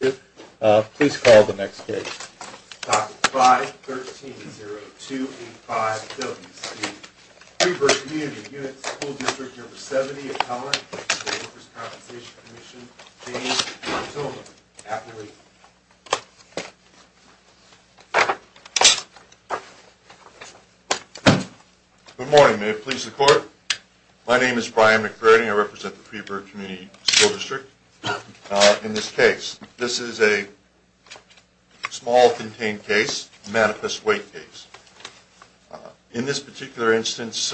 Good morning, may it please the court. My name is Brian McBurney. I represent the Freeburg Community School District. In this case, this is a small contained case, a manifest weight case. In this particular instance,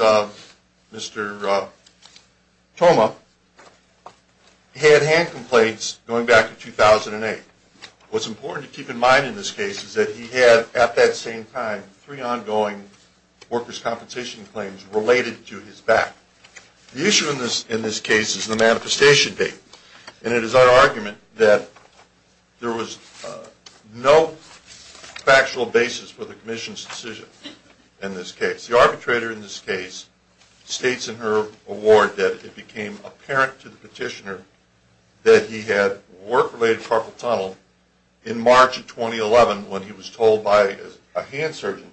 Mr. Toma had hand complaints going back to 2008. What's important to keep in mind in this case is that he had, at that same time, three ongoing workers' compensation claims related to his back. The issue in this case is the manifestation date, and it is our argument that there was no factual basis for the Commission's decision in this case. The arbitrator in this case states in her award that it became apparent to the petitioner that he had work-related carpal tunnel in March of 2011 when he was told by a hand surgeon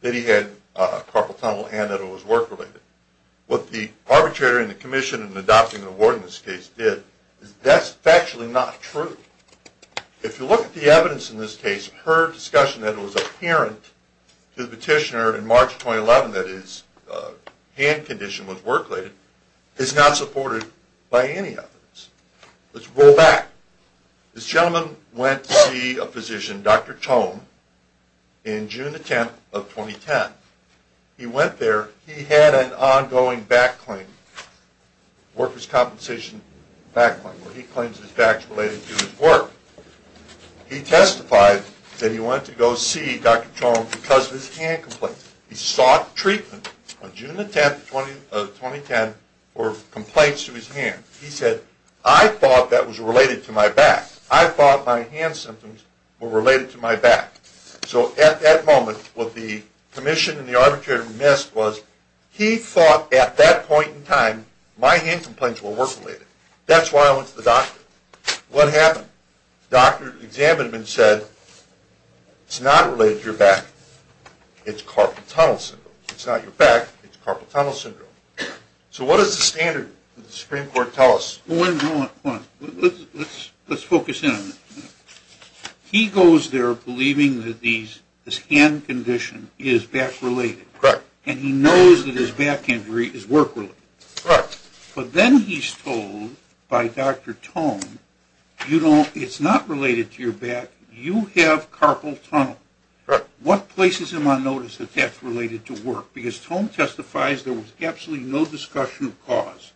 that he had carpal tunnel and that it was work-related. What the arbitrator in the Commission in adopting the award in this case did is that's factually not true. If you look at the evidence in this case, her discussion that it was apparent to the petitioner in March 2011 that his hand condition was work-related is not supported by any evidence. Let's roll back. This gentleman went to see a physician, Dr. Tome, in June 10, 2010. He went there. He had an ongoing back claim, workers' compensation back claim, where he claims his back is related to his work. He testified that he went to go see Dr. Tome because of his hand complaint. He sought treatment on June 10, 2010 for complaints to his hand. He said, I thought that was related to my back. I thought my hand symptoms were related to my back. So at that moment, what the Commission and the arbitrator missed was he thought at that point in time, my hand complaints were work-related. That's why I went to the doctor. What happened? The doctor examined him and said, it's not related to your back. It's carpal tunnel syndrome. It's not your back. It's carpal tunnel syndrome. So what does the standard of the Supreme Court tell us? Let's focus in on this. He goes there believing that this hand condition is back-related. And he knows that his back injury is work-related. But then he's told by Dr. Tome, it's not related to your back. You have carpal tunnel. What places him on notice that that's related to work? Because Tome testifies there was absolutely no discussion of cause.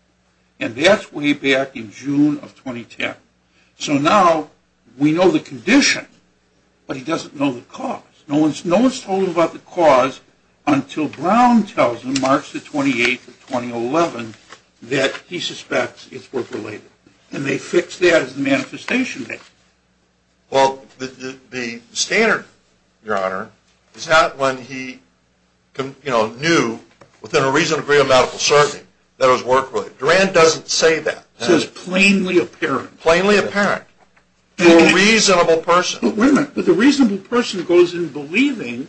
And that's way back in June of 2010. So now we know the condition, but he doesn't know the cause. No one's told him about the cause until Brown tells him, March 28, 2011, that he suspects it's work-related. And they fix that as the manifestation date. Well, the standard, Your Honor, is not when he knew within a reasonable degree of medical certainty that it was work-related. Duran doesn't say that. Plainly apparent. Plainly apparent. To a reasonable person. But wait a minute. But the reasonable person goes in believing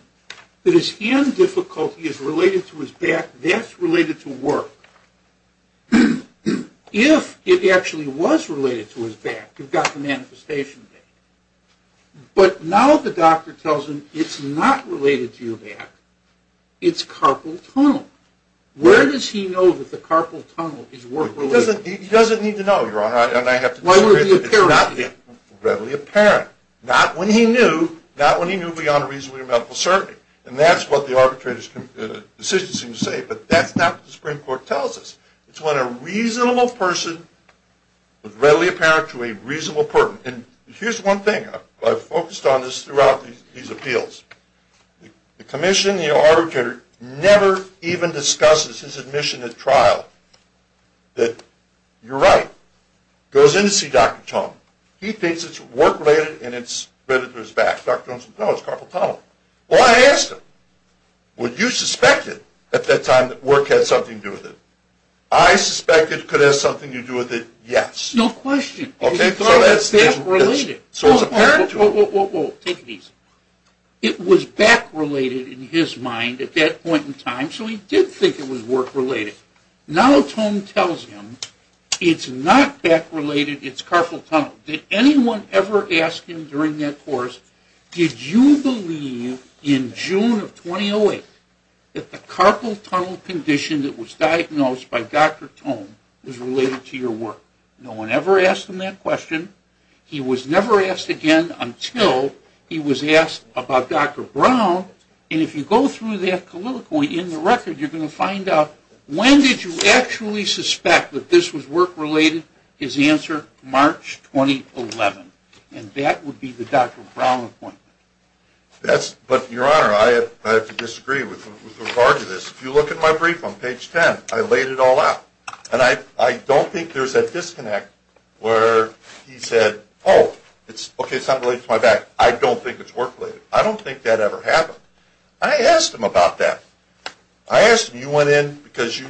that his hand difficulty is related to his back. That's related to work. If it actually was related to his back, you've got the manifestation date. But now the doctor tells him it's not related to your back. It's carpal tunnel. Where does he know that the carpal tunnel is work-related? He doesn't need to know, Your Honor. Why would he appear on it? It's not readily apparent. Not when he knew. Not when he knew beyond a reasonable degree of medical certainty. And that's what the arbitrator's decision seems to say. But that's not what the Supreme Court tells us. It's when a reasonable person is readily apparent to a reasonable person. And here's one thing. I've focused on this throughout these appeals. The commission, the arbitrator, never even discusses his admission at trial that, you're right, goes in to see Dr. Tong. He thinks it's work-related and it's related to his back. Dr. Tong says, no, it's carpal tunnel. Well, I asked him, would you suspect it at that time that work had something to do with it? I suspected it could have something to do with it, yes. No question. It was back-related in his mind at that point in time, so he did think it was work-related. Now Tong tells him, it's not back-related, it's carpal tunnel. Now, did anyone ever ask him during that course, did you believe in June of 2008 that the carpal tunnel condition that was diagnosed by Dr. Tong was related to your work? No one ever asked him that question. He was never asked again until he was asked about Dr. Brown. And if you go through that colloquy in the record, you're going to find out, when did you actually suspect that this was work-related? His answer, March 2011. And that would be the Dr. Brown appointment. But, Your Honor, I have to disagree with regard to this. If you look at my brief on page 10, I laid it all out. And I don't think there's a disconnect where he said, oh, okay, it's not related to my back. I don't think it's work-related. I don't think that ever happened. I asked him about that. I asked him, you went in because you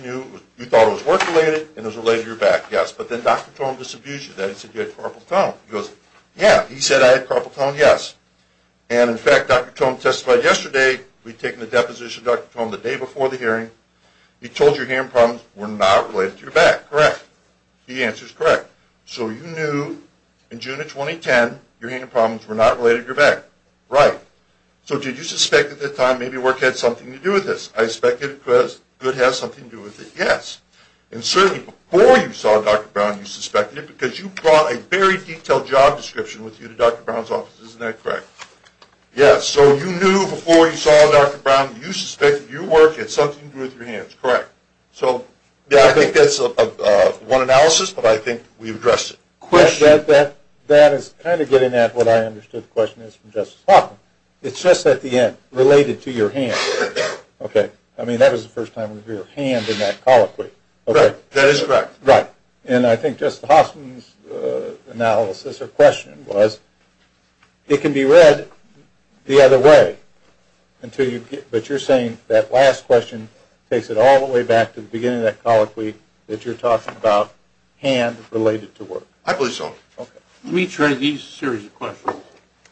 thought it was work-related and it was related to your back. Yes. But then Dr. Tong disabused you of that. He said you had carpal tunnel. He goes, yeah, he said I had carpal tunnel, yes. And in fact, Dr. Tong testified yesterday, we'd taken a deposition of Dr. Tong the day before the hearing. He told you your hand problems were not related to your back. Correct. The answer is correct. So you knew in June of 2010, your hand problems were not related to your back. Right. So did you suspect at that time maybe work had something to do with this? I suspected it could have something to do with it, yes. And certainly before you saw Dr. Brown, you suspected it because you brought a very detailed job description with you to Dr. Brown's office. Isn't that correct? Yes. So you knew before you saw Dr. Brown, you suspected your work had something to do with your hands. Correct. So I think that's one analysis, but I think we've addressed it. That is kind of getting at what I understood the question is from Justice Hoffman. It's just at the end, related to your hand. Okay. I mean, that was the first time we heard hand in that colloquy. That is correct. Right. And I think Justice Hoffman's analysis or question was, it can be read the other way, but you're saying that last question takes it all the way back to the beginning of that colloquy that you're talking about hand related to work. I believe so. Let me try these series of questions.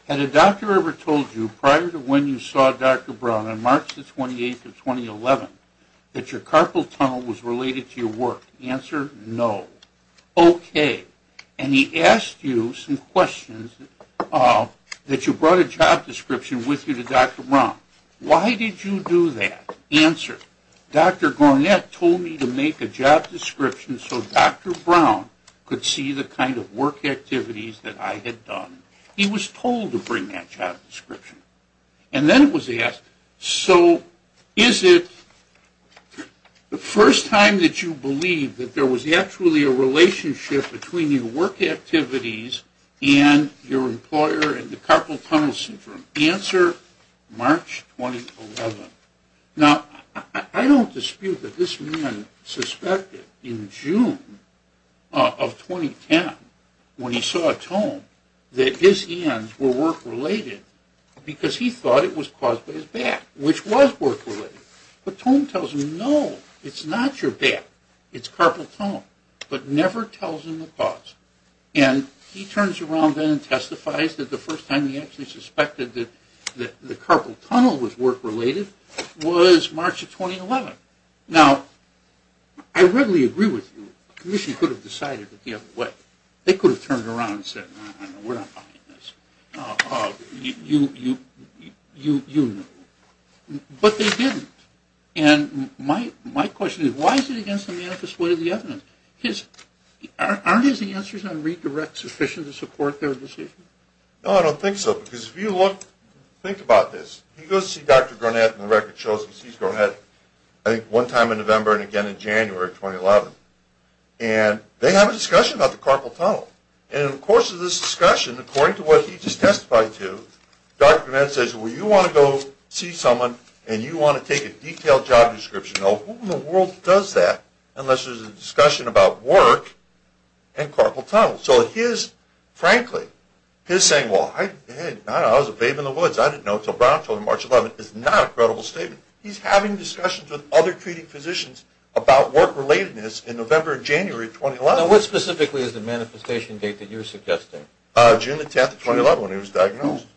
Had a doctor ever told you prior to when you saw Dr. Brown on March the 28th of 2011 that your carpal tunnel was related to your work? Answer, no. Okay. And he asked you some questions that you brought a job description with you to Dr. Brown. Why did you do that? Answer. Dr. Garnett told me to make a job description so Dr. Brown could see the kind of work activities that I had done. He was told to bring that job description. And then it was asked, so is it the first time that you believe that there was actually a relationship between your work activities and your employer and the carpal tunnel syndrome? Answer, March 2011. Now, I don't dispute that this man suspected in June of 2010 when he saw Tome that his hands were work related because he thought it was caused by his back, which was work related. But Tome tells him, no, it's not your back. It's carpal tunnel. But never tells him the cause. And he turns around then and testifies that the first time he actually suspected that the carpal tunnel was work related was March of 2011. Now, I readily agree with you. The Commission could have decided it the other way. They could have turned around and said, we're not buying this. You know. But they didn't. And my question is, why is it against the manifest way of the evidence? Aren't his answers on redirect sufficient to support their decision? No, I don't think so. Because if you look, think about this. He goes to see Dr. Gurnett. And the record shows he sees Gurnett, I think, one time in November and again in January of 2011. And they have a discussion about the carpal tunnel. And in the course of this discussion, according to what he just testified to, Dr. Gurnett says, well, you want to go see someone and you want to take a detailed job description. Now, who in the world does that unless there's a discussion about work and carpal tunnel? So his, frankly, his saying, well, I was a babe in the woods. I didn't know until Brown told me March 11 is not a credible statement. He's having discussions with other treating physicians about work relatedness in November and January of 2011. Now, what specifically is the manifestation date that you're suggesting? June the 10th, 2011, when he was diagnosed.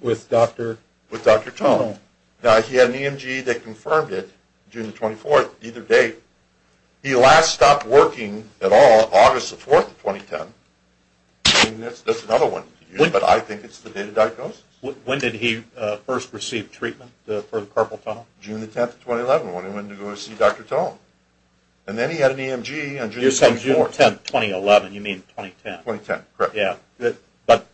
With Dr. Tone. With Dr. Tone. Now, he had an EMG that confirmed it, June the 24th, either date. He last stopped working at all August the 4th, 2010. That's another one to use, but I think it's the date of diagnosis. When did he first receive treatment for the carpal tunnel? June the 10th, 2011, when he went to go see Dr. Tone. And then he had an EMG on June the 24th. You're saying June the 10th, 2011. You mean 2010. 2010, correct. Yeah, but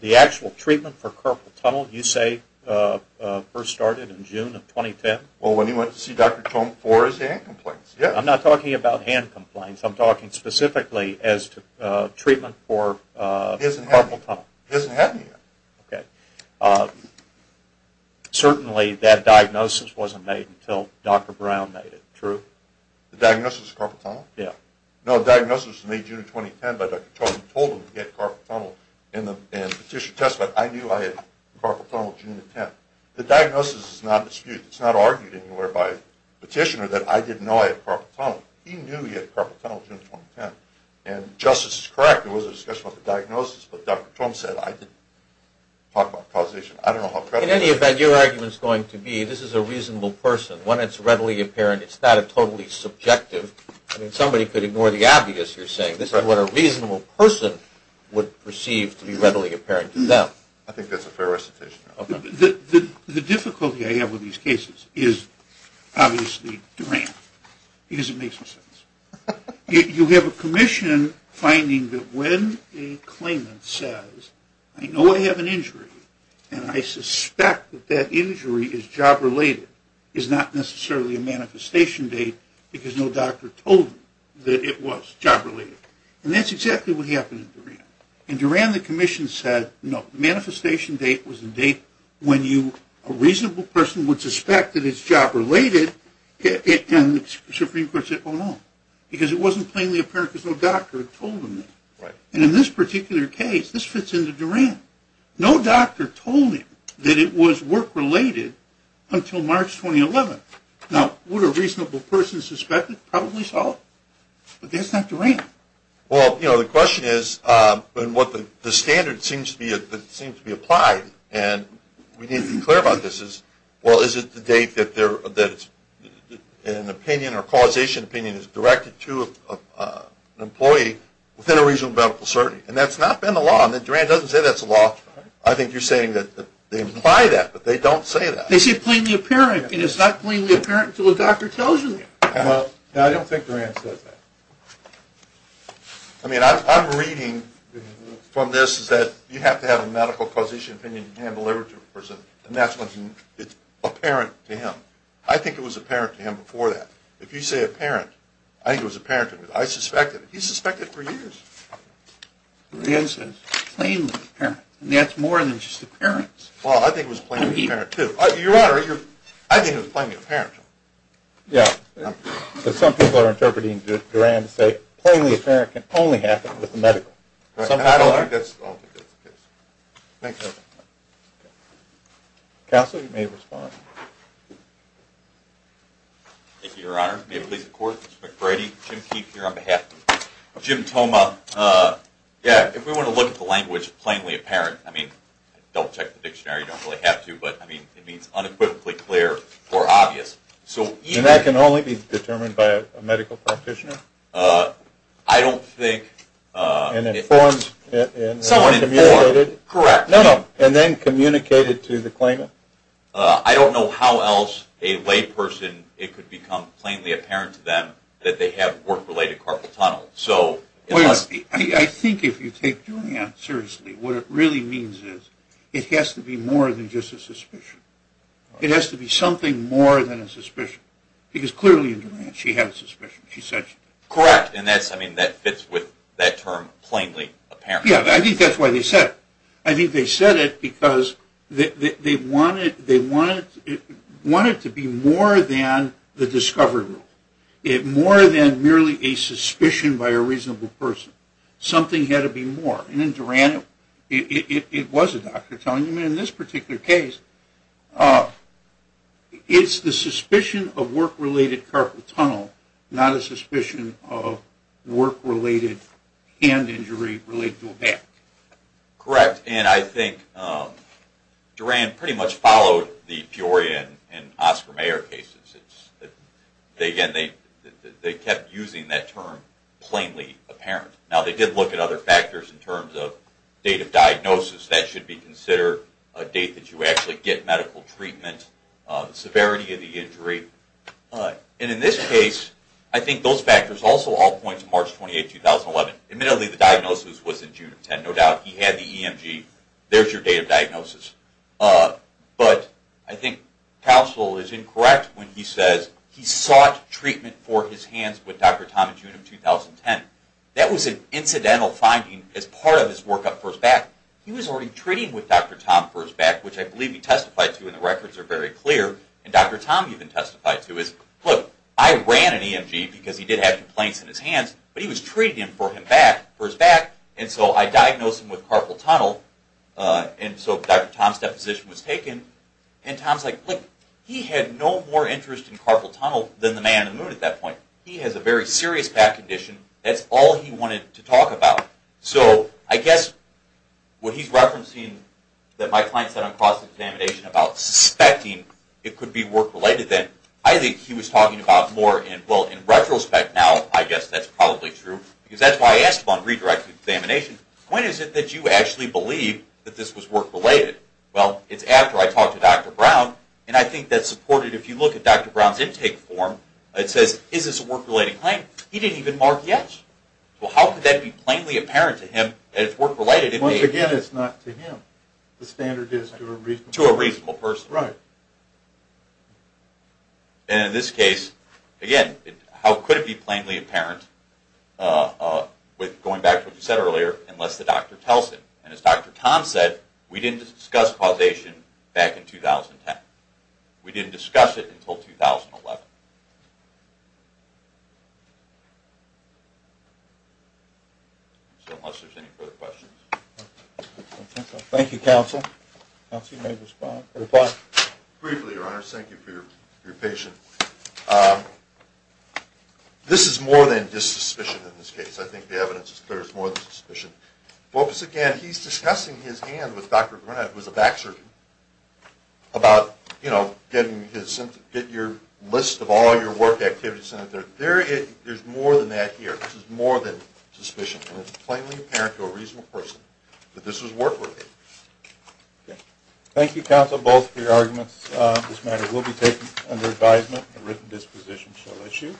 the actual treatment for carpal tunnel you say first started in June of 2010? Well, when he went to see Dr. Tone for his hand complaints. I'm not talking about hand complaints. I'm talking specifically as to treatment for carpal tunnel. He hasn't had any yet. Okay. Certainly, that diagnosis wasn't made until Dr. Brown made it, true? The diagnosis of carpal tunnel? Yeah. No, the diagnosis was made June of 2010, but Dr. Tone told him to get carpal tunnel in the petition test, but I knew I had carpal tunnel June the 10th. The diagnosis is not disputed. It's not argued anywhere by the petitioner that I didn't know I had carpal tunnel. He knew he had carpal tunnel June 2010, and justice is correct. There was a discussion about the diagnosis, but Dr. Tone said I didn't talk about causation. I don't know how credible that is. In any event, your argument is going to be this is a reasonable person. When it's readily apparent, it's not totally subjective. I mean, somebody could ignore the obvious you're saying. This is what a reasonable person would perceive to be readily apparent to them. I think that's a fair recitation. The difficulty I have with these cases is obviously Durant, because it makes no sense. You have a commission finding that when a claimant says, I know I have an injury, and I suspect that that injury is job-related, is not necessarily a manifestation date because no doctor told them that it was job-related. And that's exactly what happened in Durant. In Durant, the commission said, no, the manifestation date was a date when a reasonable person would suspect that it's job-related, and the Supreme Court said, oh, no, because it wasn't plainly apparent because no doctor had told them that. And in this particular case, this fits into Durant. No doctor told him that it was work-related until March 2011. Now, would a reasonable person suspect it? Probably so, but that's not Durant. Well, you know, the question is, and what the standard seems to be applied, and we need to be clear about this, is, well, is it the date that an opinion or causation opinion is directed to an employee within a reasonable medical certainty? And that's not been the law. And Durant doesn't say that's the law. I think you're saying that they imply that, but they don't say that. They say plainly apparent, and it's not plainly apparent until a doctor tells you that. Well, I don't think Durant says that. I mean, I'm reading from this that you have to have a medical causation opinion in hand delivered to a person, and that's when it's apparent to him. I think it was apparent to him before that. If you say apparent, I think it was apparent to him. I suspect it. He's suspected for years. Durant says plainly apparent, and that's more than just appearance. Well, I think it was plainly apparent too. Your Honor, I think it was plainly apparent to him. Yeah, but some people are interpreting Durant to say plainly apparent can only happen with the medical. I don't think that's the case. Thank you. Counsel, you may respond. Thank you, Your Honor. May it please the Court, Mr. McBrady. Jim Keefe here on behalf of Jim Toma. Yeah, if we want to look at the language plainly apparent, I mean, double-check the dictionary, you don't really have to, but, I mean, it means unequivocally clear or obvious. And that can only be determined by a medical practitioner? I don't think. Someone informed. Correct. No, no, and then communicated to the claimant? I don't know how else a layperson, it could become plainly apparent to them that they have work-related carpal tunnel. I think if you take Durant seriously, what it really means is it has to be more than just a suspicion. It has to be something more than a suspicion, because clearly in Durant she had a suspicion. She said she did. Correct, and that fits with that term, plainly apparent. Yeah, I think that's why they said it. I think they said it because they want it to be more than the discovery rule, more than merely a suspicion by a reasonable person. Something had to be more, and in Durant it was a doctor telling them. And in this particular case, it's the suspicion of work-related carpal tunnel, not a suspicion of work-related hand injury related to a bat. Correct, and I think Durant pretty much followed the Peoria and Oscar Mayer cases. Again, they kept using that term, plainly apparent. Now, they did look at other factors in terms of date of diagnosis. That should be considered a date that you actually get medical treatment, severity of the injury. And in this case, I think those factors also all point to March 28, 2011. Admittedly, the diagnosis was in June of 2010, no doubt. He had the EMG. There's your date of diagnosis. But I think Cousel is incorrect when he says he sought treatment for his hands with Dr. Tom in June of 2010. That was an incidental finding as part of his workup for his back. He was already treating with Dr. Tom for his back, which I believe he testified to, and the records are very clear, and Dr. Tom even testified to it. Look, I ran an EMG because he did have complaints in his hands, but he was treating him for his back, and so I diagnosed him with carpal tunnel, and so Dr. Tom's deposition was taken. And Tom's like, look, he had no more interest in carpal tunnel than the man on the moon at that point. He has a very serious back condition. That's all he wanted to talk about. So I guess what he's referencing that my client said on cross-examination about suspecting it could be work-related, then I think he was talking about more in, well, in retrospect now, I guess that's probably true, because that's why I asked him on redirected examination, when is it that you actually believe that this was work-related? Well, it's after I talked to Dr. Brown, and I think that's supported. If you look at Dr. Brown's intake form, it says, is this a work-related claim? He didn't even mark yes. Well, how could that be plainly apparent to him that it's work-related? Once again, it's not to him. The standard is to a reasonable person. To a reasonable person. Right. And in this case, again, how could it be plainly apparent, going back to what you said earlier, unless the doctor tells him? And as Dr. Tom said, we didn't discuss causation back in 2010. We didn't discuss it until 2011. So unless there's any further questions. Thank you, counsel. Counsel, you may respond. Briefly, Your Honor. Thank you for your patience. This is more than just suspicion in this case. I think the evidence is clear. It's more than suspicion. Well, once again, he's discussing his hand with Dr. Brunette, who's a back surgeon, about getting your list of all your work activities. There's more than that here. This is more than suspicion. And it's plainly apparent to a reasonable person that this was work-related. Thank you, counsel, both for your arguments. This matter will be taken under advisement. A written disposition shall issue.